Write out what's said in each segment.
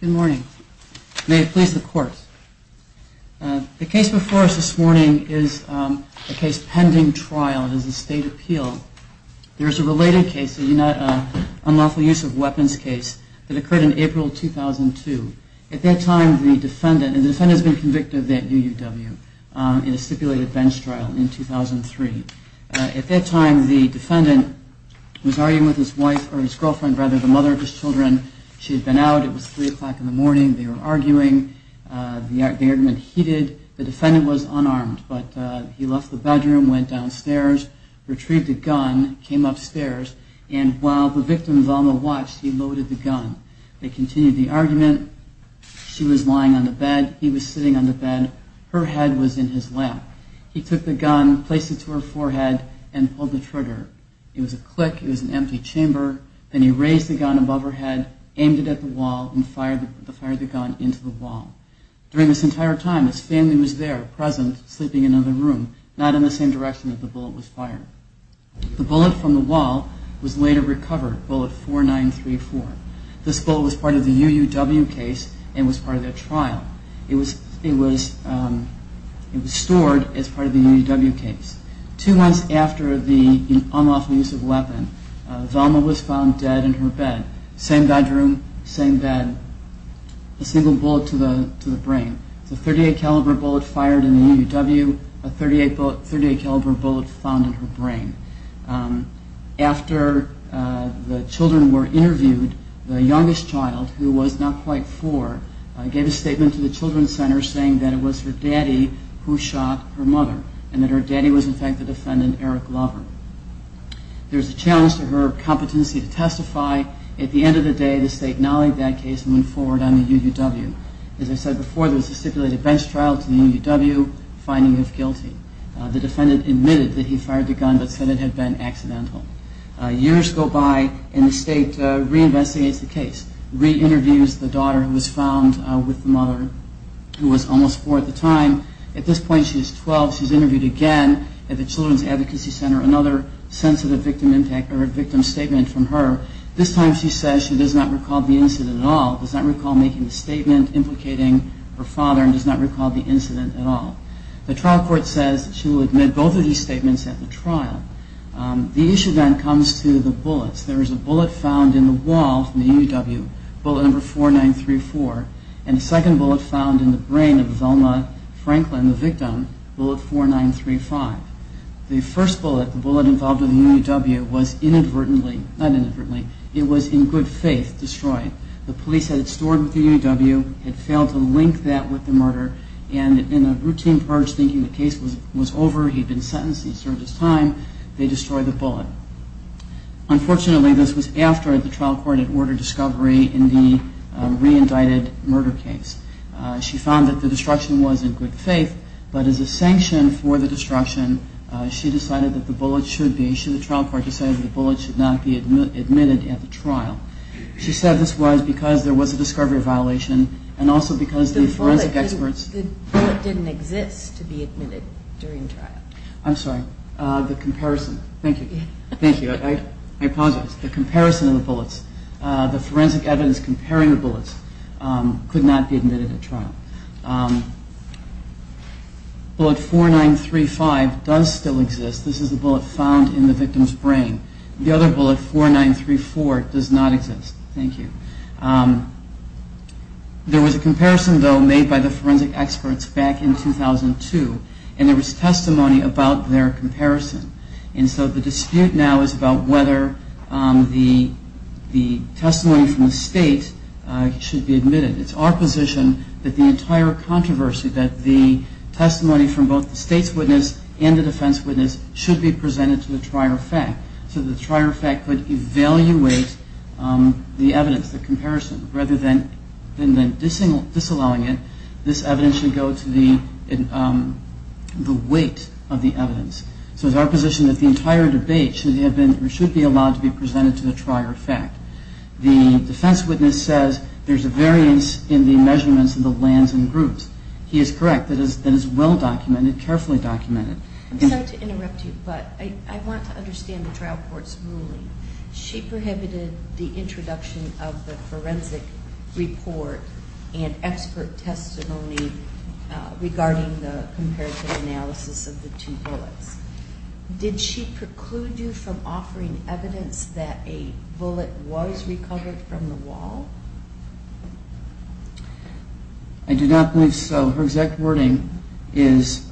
Good morning. May it please the courts. The case before us this morning is a case pending trial. It is a state appeal. There is a related case, an unlawful use of weapons case that occurred in April 2002. At that time the defendant, and the defendant has been convicted of that UUW in a stipulated bench trial in 2003. At that time the defendant was arguing with his wife, or his girlfriend rather, the mother of his children. She had been out. It was 3 o'clock in the morning. They were arguing. The argument heated. The defendant was unarmed, but he left the bedroom, went downstairs, retrieved a gun, came upstairs, and while the victim's on the watch, he loaded the gun. They continued the argument. She was lying on the bed. He was sitting on the bed. Her head was in his lap. He took the gun, placed it to her forehead, and pulled the trigger. It was a click. It was an empty chamber. Then he raised the gun above her head, aimed it at the wall, and fired the gun into the wall. During this entire time, his family was there, present, sleeping in another room, not in the same direction that the bullet was fired. The bullet from the wall was later recovered, bullet 4934. This bullet was part of the UUW case and was part of their trial. It was stored as part of the UUW case. Two months after the unlawful use of the weapon, Velma was found dead in her bed. Same bedroom, same bed, a single bullet to the brain. It was a .38 caliber bullet fired in the UUW, a .38 caliber bullet found in her brain. After the children were interviewed, the youngest child, who was not quite four, gave a statement to the children's center saying that it was her daddy who shot her mother, and that her daddy was in fact the defendant, Eric Lover. There was a challenge to her competency to testify. At the end of the day, the state acknowledged that case and went forward on the UUW. As I said before, there was a stipulated bench trial to the UUW finding her guilty. The defendant admitted that he fired the gun but said it had been accidental. Years go by and the state re-investigates the case, re-interviews the daughter who was found with the mother who was almost four at the time. At this point she is 12. She is interviewed again at the children's advocacy center. Another sensitive victim statement from her. This time she says she does not recall the incident at all, does not recall making the statement implicating her father, and does not recall the incident at all. The trial court says that she will admit both of these statements at the trial. The issue then comes to the bullets. There is a bullet found in the wall from the UUW, bullet number 4934, and a second bullet found in the brain of Velma Franklin, the victim, bullet 4935. The first bullet, the bullet involved in the UUW, was in good faith destroyed. The police had it stored with the UUW, had failed to link that with the murder, and in a routine purge thinking the case was over, he had been sentenced and served his time. Unfortunately, this was after the trial court had ordered discovery in the re-indicted murder case. She found that the destruction was in good faith, but as a sanction for the destruction, she decided that the bullet should be, the trial court decided that the bullet should not be admitted at the trial. She said this was because there was a discovery violation, and also because the forensic experts... Thank you. I apologize. The comparison of the bullets, the forensic evidence comparing the bullets, could not be admitted at trial. Bullet 4935 does still exist. This is the bullet found in the victim's brain. The other bullet, 4934, does not exist. Thank you. There was a comparison, though, made by the forensic experts back in 2002, and there was testimony about their comparison. And so the dispute now is about whether the testimony from the state should be admitted. It's our position that the entire controversy, that the testimony from both the state's witness and the defense witness, should be presented to the trier of fact, so the trier of fact could evaluate the evidence, the comparison. Rather than disallowing it, this evidence should go to the weight of the evidence. So it's our position that the entire debate should be allowed to be presented to the trier of fact. The defense witness says there's a variance in the measurements of the lands and groups. He is correct. That is well documented, carefully documented. I'm sorry to interrupt you, but I want to understand the trial court's ruling. She prohibited the introduction of the forensic report and expert testimony regarding the comparative analysis of the two bullets. Did she preclude you from offering evidence that a bullet was recovered from the wall? I do not believe so. Her exact wording is,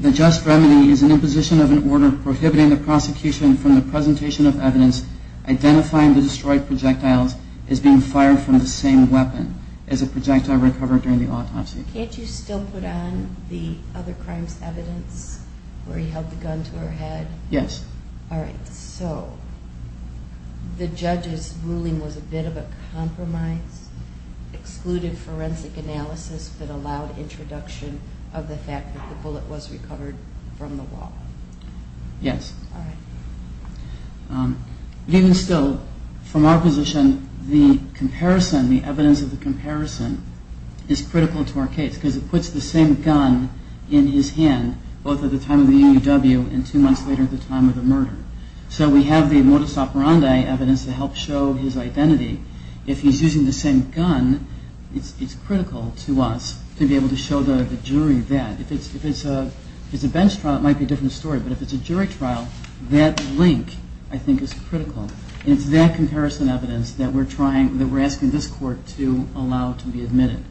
the just remedy is an imposition of an order prohibiting the prosecution from the presentation of evidence identifying the destroyed projectiles as being fired from the same weapon as a projectile recovered during the autopsy. Can't you still put on the other crime's evidence where he held the gun to her head? Yes. All right. So the judge's ruling was a bit of a compromise, excluded forensic analysis, but allowed introduction of the fact that the bullet was recovered from the wall. Yes. Even still, from our position, the comparison, the evidence of the comparison is critical to our case because it puts the same gun in his hand both at the time of the EUW and two months later at the time of the murder. So we have the modus operandi evidence to help show his identity. If he's using the same gun, it's critical to us to be able to show the jury that. If it's a bench trial, it might be a different story, but if it's a jury trial, that link, I think, is critical. It's that comparison evidence that we're asking this court to allow to be admitted.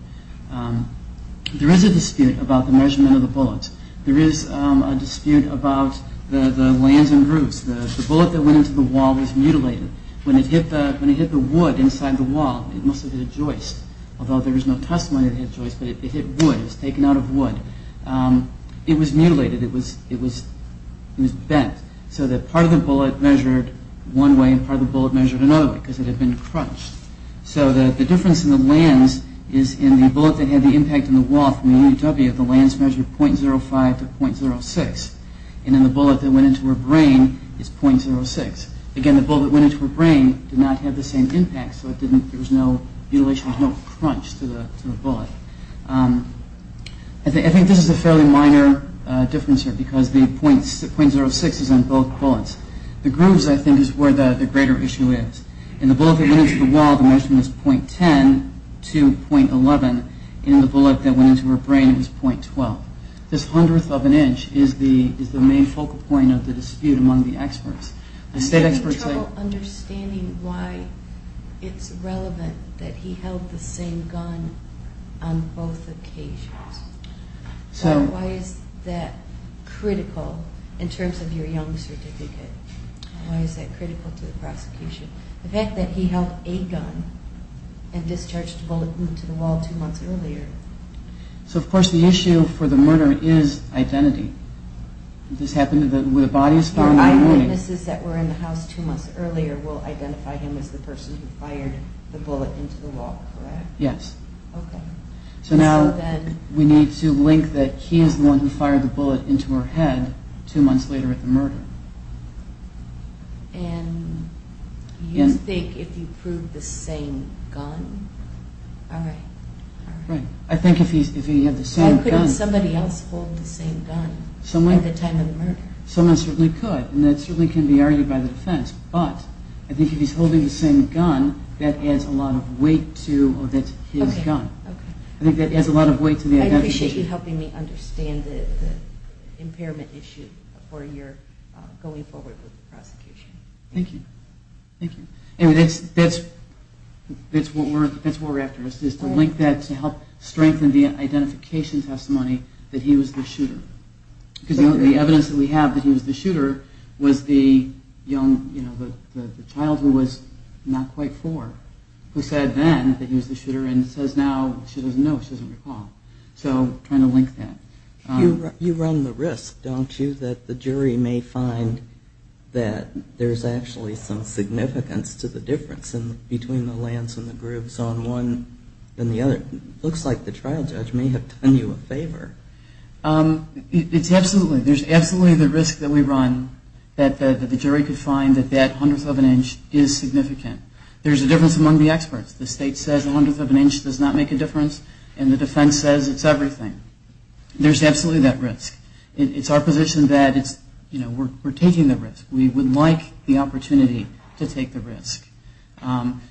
There is a dispute about the measurement of the bullets. There is a dispute about the lands and roofs. The bullet that went into the wall was mutilated. When it hit the wood inside the wall, it must have hit a joist, although there is no testimony that it hit a joist, but it hit wood. It was taken out of wood. It was mutilated. It was bent so that part of the bullet measured one way and part of the bullet measured another way because it had been crunched. So the difference in the lands is in the bullet that had the impact on the wall from the EUW, the lands measured 0.05 to 0.06, and in the bullet that went into her brain, it's 0.06. Again, the bullet that went into her brain did not have the same impact, so there was no mutilation, no crunch to the bullet. I think this is a fairly minor difference here because the 0.06 is on both bullets. The grooves, I think, is where the greater issue is. In the bullet that went into the wall, the measurement was 0.10 to 0.11. In the bullet that went into her brain, it was 0.12. This hundredth of an inch is the main focal point of the dispute among the experts. I'm having trouble understanding why it's relevant that he held the same gun on both occasions. Why is that critical in terms of your young certificate? Why is that critical to the prosecution? The fact that he held a gun and discharged a bullet into the wall two months earlier... So, of course, the issue for the murder is identity. This happened when the body was found that morning. The eyewitnesses that were in the house two months earlier will identify him as the person who fired the bullet into the wall, correct? Yes. Okay. So now we need to link that he is the one who fired the bullet into her head two months later at the murder. And you think if he proved the same gun? I think if he had the same gun... Why couldn't somebody else hold the same gun at the time of the murder? Someone certainly could, and that certainly can be argued by the defense. But I think if he's holding the same gun, that adds a lot of weight to his gun. Okay. I think that adds a lot of weight to the identification. I appreciate you helping me understand the impairment issue for your going forward with the prosecution. Thank you. Thank you. Anyway, that's what we're after, is to link that to help strengthen the identification testimony that he was the shooter. Because the evidence that we have that he was the shooter was the child who was not quite four who said then that he was the shooter, and says now she doesn't know, she doesn't recall. So trying to link that. You run the risk, don't you, that the jury may find that there's actually some significance to the difference between the lands and the groups on one and the other. It looks like the trial judge may have done you a favor. It's absolutely. There's absolutely the risk that we run that the jury could find that that hundredth of an inch is significant. There's a difference among the experts. The state says a hundredth of an inch does not make a difference, and the defense says it's everything. There's absolutely that risk. It's our position that we're taking the risk. We would like the opportunity to take the risk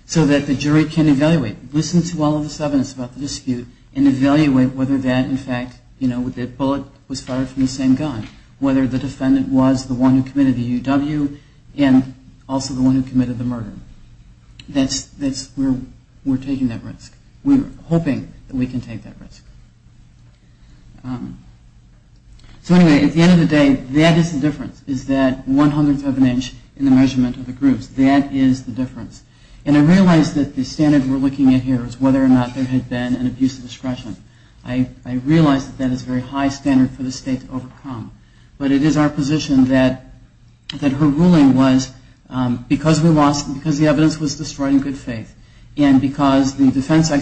so that the jury can evaluate, listen to all of this evidence about the dispute, and evaluate whether that, in fact, the bullet was fired from the same gun, whether the defendant was the one who committed the UW and also the one who committed the murder. That's where we're taking that risk. We're hoping that we can take that risk. So anyway, at the end of the day, that is the difference, is that one hundredth of an inch in the measurement of the groups. That is the difference. And I realize that the standard we're looking at here is whether or not there had been an abuse of discretion. I realize that that is a very high standard for the state to overcome. But it is our position that her ruling was because the evidence was destroyed in good faith and because the forensic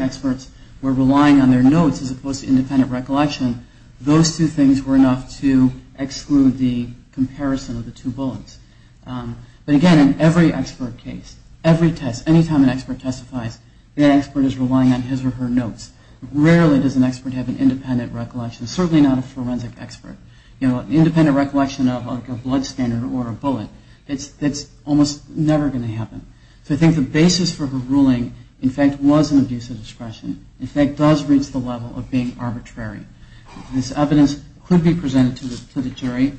experts were relying on their notes as opposed to independent recollection, those two things were enough to exclude the comparison of the two bullets. But, again, in every expert case, every test, any time an expert testifies, rarely does an expert have an independent recollection, certainly not a forensic expert. An independent recollection of a blood scanner or a bullet, that's almost never going to happen. So I think the basis for her ruling, in fact, was an abuse of discretion. In fact, does reach the level of being arbitrary. This evidence could be presented to the jury.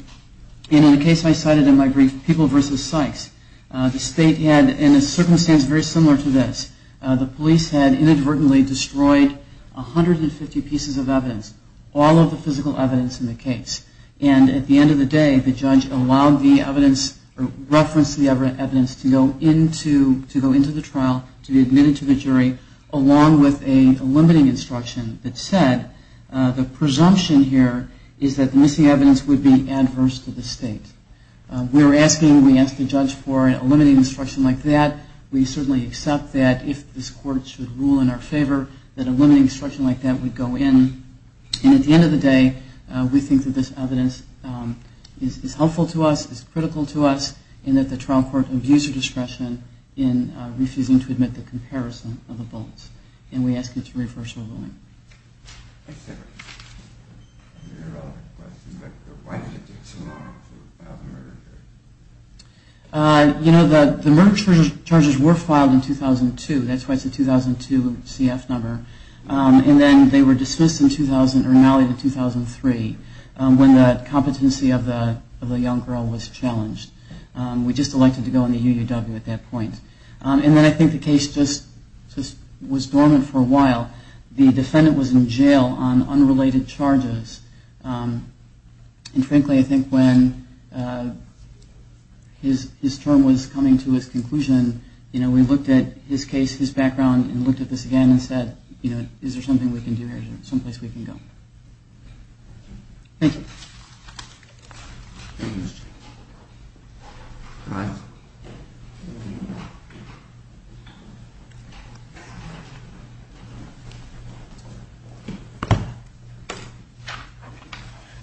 And in the case I cited in my brief, People v. Sykes, the state had, in a circumstance very similar to this, the police had inadvertently destroyed 150 pieces of evidence, all of the physical evidence in the case. And at the end of the day, the judge allowed the evidence, referenced the evidence, to go into the trial, to be admitted to the jury, along with a limiting instruction that said, the presumption here is that the missing evidence would be adverse to the state. We were asking, we asked the judge for a limiting instruction like that. We certainly accept that if this court should rule in our favor, that a limiting instruction like that would go in. And at the end of the day, we think that this evidence is helpful to us, is critical to us, and that the trial court abused her discretion in refusing to admit the comparison of the bullets. And we ask you to reverse your ruling. Next question. You know, the murder charges were filed in 2002. That's why it's a 2002 CF number. And then they were dismissed in 2003 when the competency of the young girl was challenged. We just elected to go in the UUW at that point. And then I think the case just was dormant for a while. The defendant was in jail on unrelated charges. And frankly, I think when his term was coming to its conclusion, you know, we looked at his case, his background, and looked at this again and said, you know, is there something we can do here, someplace we can go? Thank you.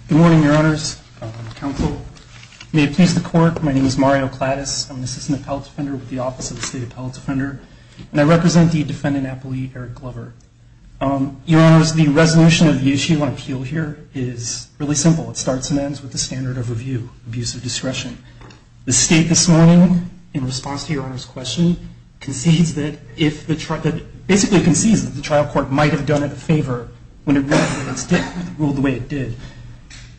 Good morning, Your Honors. May it please the court, my name is Mario Plattis. I'm an assistant appellate defender with the Office of the State Appellate Defender. And I represent the defendant appellee, Eric Glover. Your Honors, the resolution of the issue on appeal here is really simple. It starts and ends with the standard of review, abuse of discretion. The state this morning, in response to Your Honor's question, concedes that if the trial court might have done it a favor when it ruled the way it did.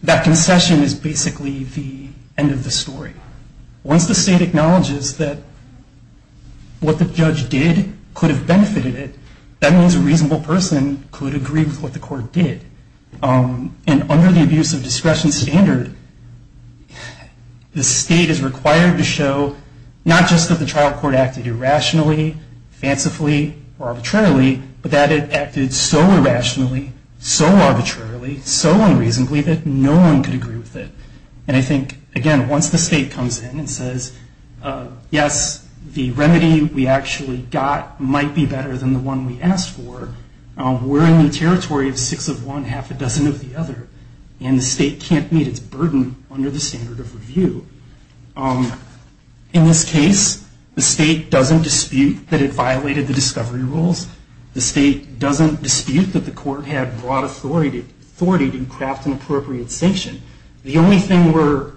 That concession is basically the end of the story. Once the state acknowledges that what the judge did could have benefited it, that means a reasonable person could agree with what the court did. And under the abuse of discretion standard, the state is required to show, not just that the trial court acted irrationally, fancifully, or arbitrarily, but that it acted so irrationally, so arbitrarily, so unreasonably, that no one could agree with it. And I think, again, once the state comes in and says, yes, the remedy we actually got might be better than the one we asked for, we're in the territory of six of one, half a dozen of the other. And the state can't meet its burden under the standard of review. In this case, the state doesn't dispute that it violated the discovery rules. The state doesn't dispute that the court had broad authority to craft an appropriate sanction. The only thing we're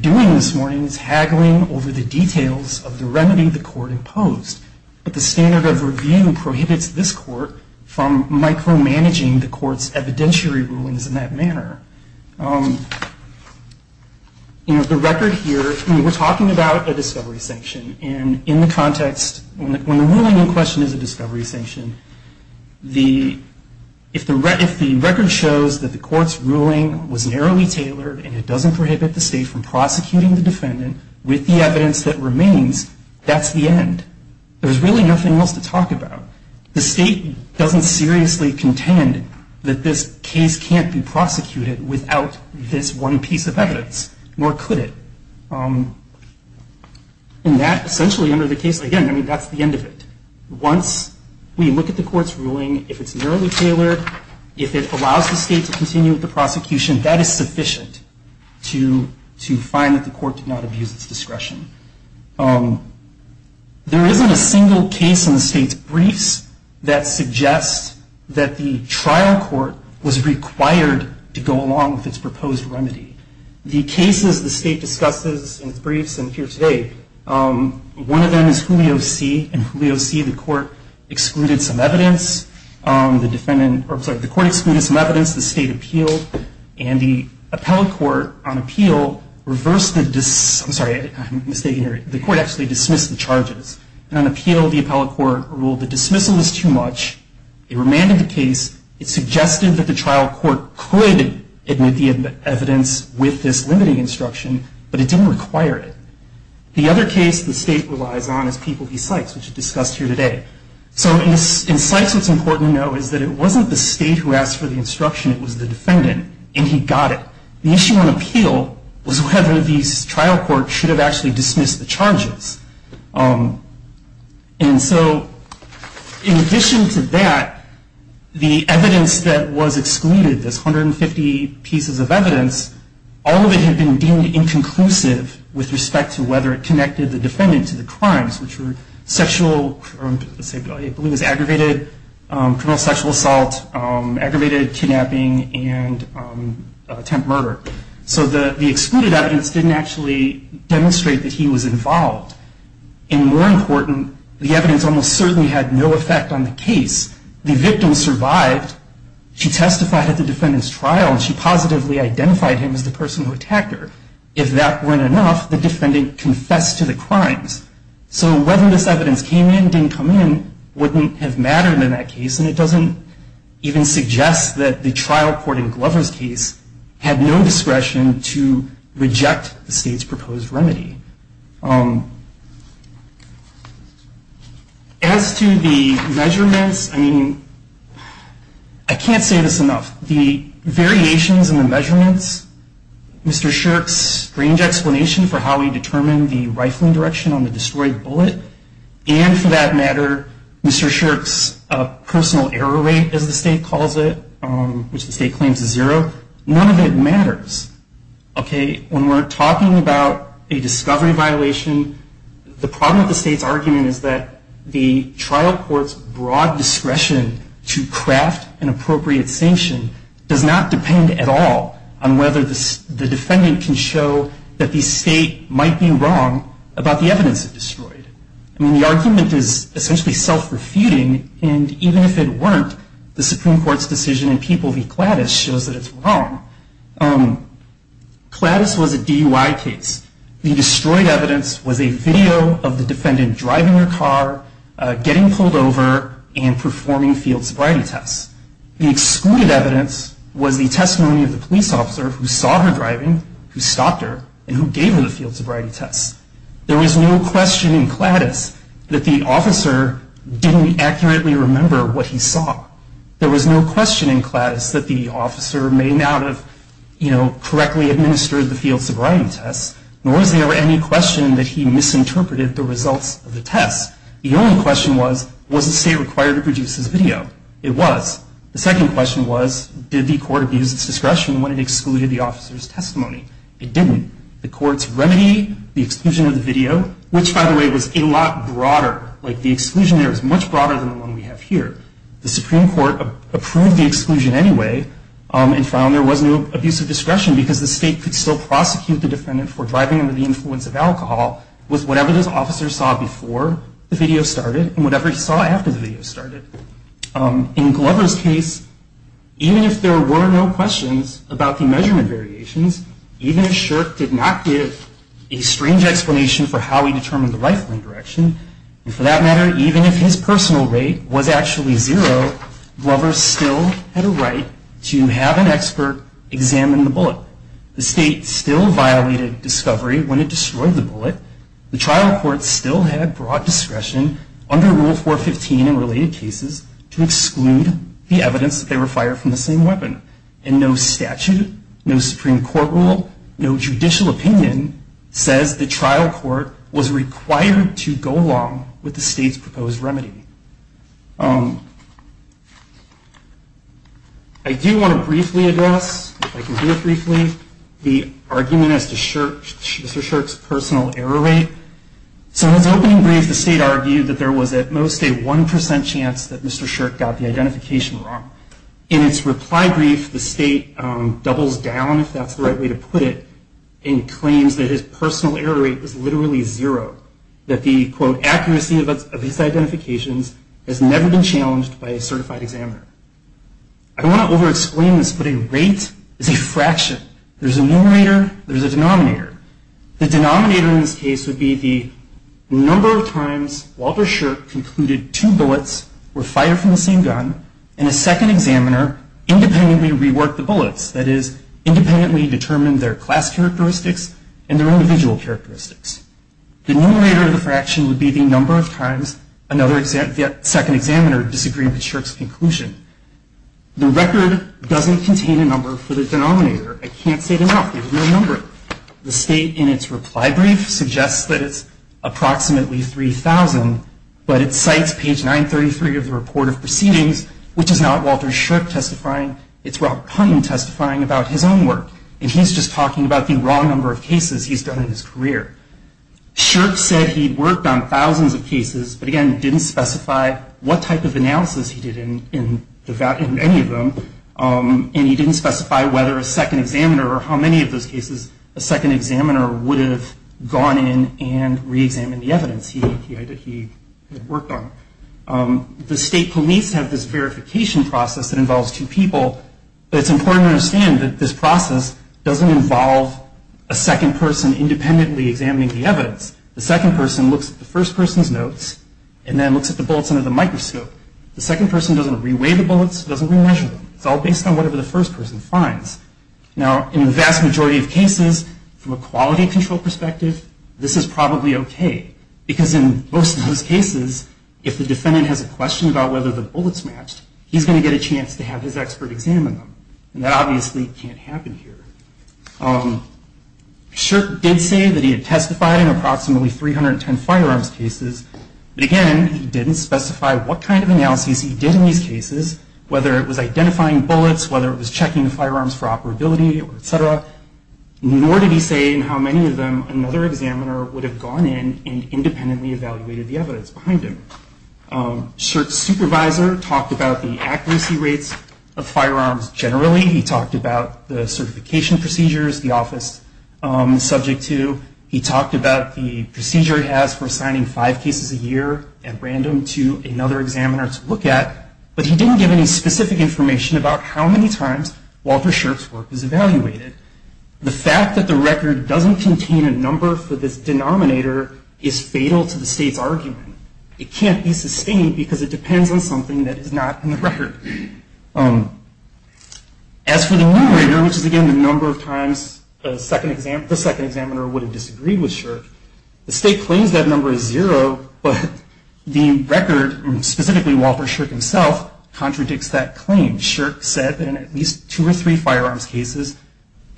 doing this morning is haggling over the details of the remedy the court imposed. But the standard of review prohibits this court from micromanaging the court's evidentiary rulings in that manner. The record here, we're talking about a discovery sanction. And in the context, when the ruling in question is a discovery sanction, if the record shows that the court's ruling was narrowly tailored and it doesn't prohibit the state from prosecuting the defendant with the evidence that remains, that's the end. There's really nothing else to talk about. The state doesn't seriously contend that this case can't be prosecuted without this one piece of evidence, nor could it. And that, essentially, under the case, again, I mean, that's the end of it. Once we look at the court's ruling, if it's narrowly tailored, if it allows the state to continue with the prosecution, that is sufficient to find that the court did not abuse its discretion. There isn't a single case in the state's briefs that suggests that the trial court was required to go along with its proposed remedy. The cases the state discusses in its briefs and here today, one of them is Julio C. In Julio C, the court excluded some evidence. The defendant, or I'm sorry, the court excluded some evidence. The state appealed. And the appellate court, on appeal, reversed the, I'm sorry, I'm mistaken here. The court actually dismissed the charges. And on appeal, the appellate court ruled the dismissal was too much. It remanded the case. It suggested that the trial court could admit the evidence with this limiting instruction, but it didn't require it. The other case the state relies on is People v. Sykes, which is discussed here today. So in Sykes, what's important to know is that it wasn't the state who asked for the instruction. It was the defendant. And he got it. The issue on appeal was whether the trial court should have actually dismissed the charges. And so in addition to that, the evidence that was excluded, this 150 pieces of evidence, all of it had been deemed inconclusive with respect to whether it connected the defendant to the crimes, which were sexual, I believe it was aggravated, criminal sexual assault, aggravated kidnapping, and attempt murder. So the excluded evidence didn't actually demonstrate that he was involved. And more important, the evidence almost certainly had no effect on the case. The victim survived. She testified at the defendant's trial, and she positively identified him as the person who attacked her. If that weren't enough, the defendant confessed to the crimes. So whether this evidence came in, didn't come in, wouldn't have mattered in that case. And it doesn't even suggest that the trial court in Glover's case had no discretion to reject the state's proposed remedy. As to the measurements, I mean, I can't say this enough. The variations in the measurements, Mr. Shirk's strange explanation for how he determined the rifling direction on the destroyed bullet, and for that matter, Mr. Shirk's personal error rate, as the state calls it, which the state claims is zero, none of it matters. Okay, when we're talking about a discovery violation, the problem with the state's argument is that the trial court's broad discretion to craft an appropriate sanction does not depend at all on whether the defendant can show that the state might be wrong about the evidence it destroyed. I mean, the argument is essentially self-refuting, and even if it weren't, the Supreme Court's decision in People v. Gladys shows that it's wrong. Gladys was a DUI case. The destroyed evidence was a video of the defendant driving her car, getting pulled over, and performing field sobriety tests. The excluded evidence was the testimony of the police officer who saw her driving, who stopped her, and who gave her the field sobriety tests. There was no question in Gladys that the officer didn't accurately remember what he saw. There was no question in Gladys that the officer may not have, you know, correctly administered the field sobriety tests, nor is there any question that he misinterpreted the results of the tests. The only question was, was the state required to produce this video? It was. The second question was, did the court abuse its discretion when it excluded the officer's testimony? It didn't. The court's remedy, the exclusion of the video, which, by the way, was a lot broader. Like, the exclusion there was much broader than the one we have here. The Supreme Court approved the exclusion anyway, and found there was no abuse of discretion because the state could still prosecute the defendant for driving under the influence of alcohol with whatever this officer saw before the video started and whatever he saw after the video started. In Glover's case, even if there were no questions about the measurement variations, even if Shirk did not give a strange explanation for how he determined the rifle indirection, and for that matter, even if his personal rate was actually zero, Glover still had a right to have an expert examine the bullet. The state still violated discovery when it destroyed the bullet. The trial court still had broad discretion under Rule 415 in related cases to exclude the evidence that they were fired from the same weapon. And no statute, no Supreme Court rule, no judicial opinion says the trial court was required to go along with the state's proposed remedy. I do want to briefly address, if I can do it briefly, the argument as to Mr. Shirk's personal error rate. So in his opening brief, the state argued that there was at most a 1% chance that Mr. Shirk got the identification wrong. In his reply brief, the state doubles down, if that's the right way to put it, and claims that his personal error rate was literally zero, that the, quote, accuracy of his identifications has never been challenged by a certified examiner. I don't want to over-explain this, but a rate is a fraction. There's a numerator, there's a denominator. The denominator in this case would be the number of times Walter Shirk concluded two bullets were fired from the same gun, and a second examiner independently reworked the bullets, that is, independently determined their class characteristics and their individual characteristics. The numerator of the fraction would be the number of times another second examiner disagreed with Shirk's conclusion. The record doesn't contain a number for the denominator. I can't say it enough. There's no number. The state, in its reply brief, suggests that it's approximately 3,000, but it cites page 933 of the report of proceedings, which is not Walter Shirk testifying. It's Robert Puntin testifying about his own work, Shirk said he'd worked on thousands of cases, but, again, didn't specify what type of analysis he did in any of them, and he didn't specify whether a second examiner or how many of those cases a second examiner would have gone in and reexamined the evidence he had worked on. The state police have this verification process that involves two people, but it's important to understand that this process doesn't involve a second person independently examining the evidence. The second person looks at the first person's notes and then looks at the bullets under the microscope. The second person doesn't re-weigh the bullets, doesn't re-measure them. It's all based on whatever the first person finds. Now, in the vast majority of cases, from a quality control perspective, this is probably okay, because in most of those cases, if the defendant has a question about whether the bullets matched, he's going to get a chance to have his expert examine them, and that obviously can't happen here. Shirk did say that he had testified in approximately 310 firearms cases, but again, he didn't specify what kind of analysis he did in these cases, whether it was identifying bullets, whether it was checking the firearms for operability, et cetera. Nor did he say in how many of them another examiner would have gone in and independently evaluated the evidence behind him. Shirk's supervisor talked about the accuracy rates of firearms generally. He talked about the certification procedures the office is subject to. He talked about the procedure he has for assigning five cases a year at random to another examiner to look at, but he didn't give any specific information about how many times Walter Shirk's work is evaluated. The fact that the record doesn't contain a number for this denominator is fatal to the state's argument. It can't be sustained because it depends on something that is not in the record. As for the numerator, which is again the number of times the second examiner would have disagreed with Shirk, the state claims that number is zero, but the record, specifically Walter Shirk himself, contradicts that claim. Shirk said that in at least two or three firearms cases,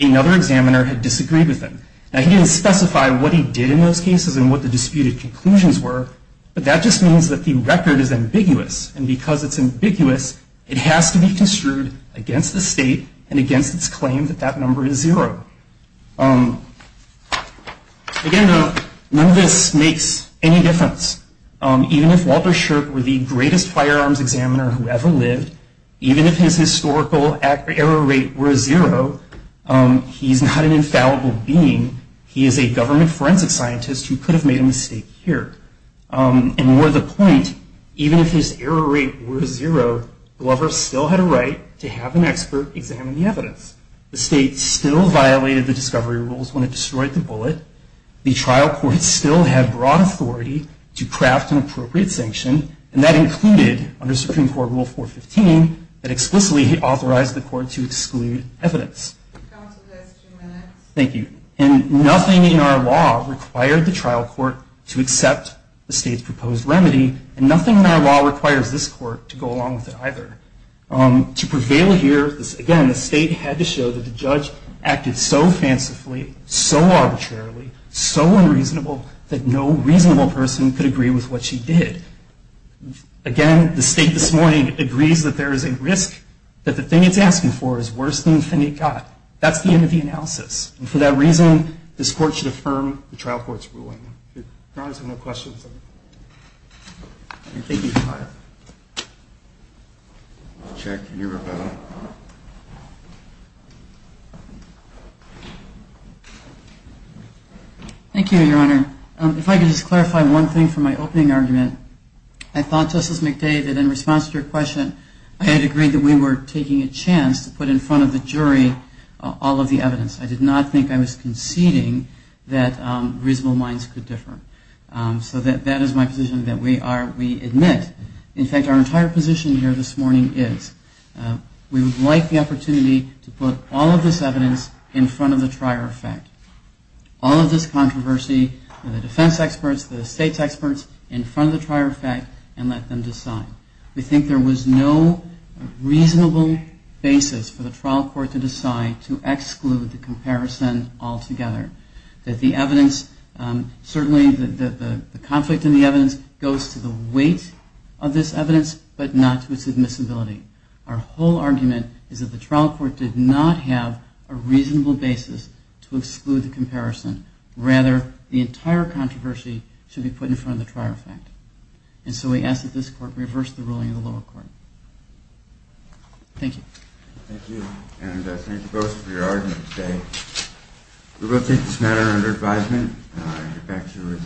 another examiner had disagreed with him. Now, he didn't specify what he did in those cases and what the disputed conclusions were, but that just means that the record is ambiguous, and because it's ambiguous, it has to be construed against the state and against its claim that that number is zero. Again, none of this makes any difference. Even if Walter Shirk were the greatest firearms examiner who ever lived, even if his historical error rate were zero, he's not an infallible being. He is a government forensic scientist who could have made a mistake here. And more to the point, even if his error rate were zero, Glover still had a right to have an expert examine the evidence. The state still violated the discovery rules when it destroyed the bullet. The trial court still had broad authority to craft an appropriate sanction, and that included, under Supreme Court Rule 415, that explicitly authorized the court to exclude evidence. Thank you. And nothing in our law required the trial court to accept the state's proposed remedy, and nothing in our law requires this court to go along with it either. To prevail here, again, the state had to show that the judge acted so fancifully, so arbitrarily, so unreasonable, that no reasonable person could agree with what she did. Again, the state this morning agrees that there is a risk that the thing it's asking for is worse than the thing it got. That's the end of the analysis. And for that reason, this court should affirm the trial court's ruling. If Your Honor has any more questions. Thank you, Your Honor. I thought, Justice McDavid, in response to your question, I had agreed that we were taking a chance to put in front of the jury all of the evidence. I did not think I was conceding that reasonable minds could differ. So that is my position, that we are, we admit that there is a risk, And I think that's a good thing. In fact, our entire position here this morning is, we would like the opportunity to put all of this evidence in front of the trier effect. All of this controversy, the defense experts, the state's experts, in front of the trier effect and let them decide. We think there was no reasonable basis for the trial court to decide to exclude the comparison altogether. That the evidence, certainly the conflict in the evidence, goes to the weight of this evidence, but not to its admissibility. Our whole argument is that the trial court did not have a reasonable basis to exclude the comparison. Rather, the entire controversy should be put in front of the trier effect. And so we ask that this court reverse the ruling of the lower court. Thank you. Thank you. And thank you both for your argument today. We will take this matter under advisement. Thank you. Thank you. Thank you.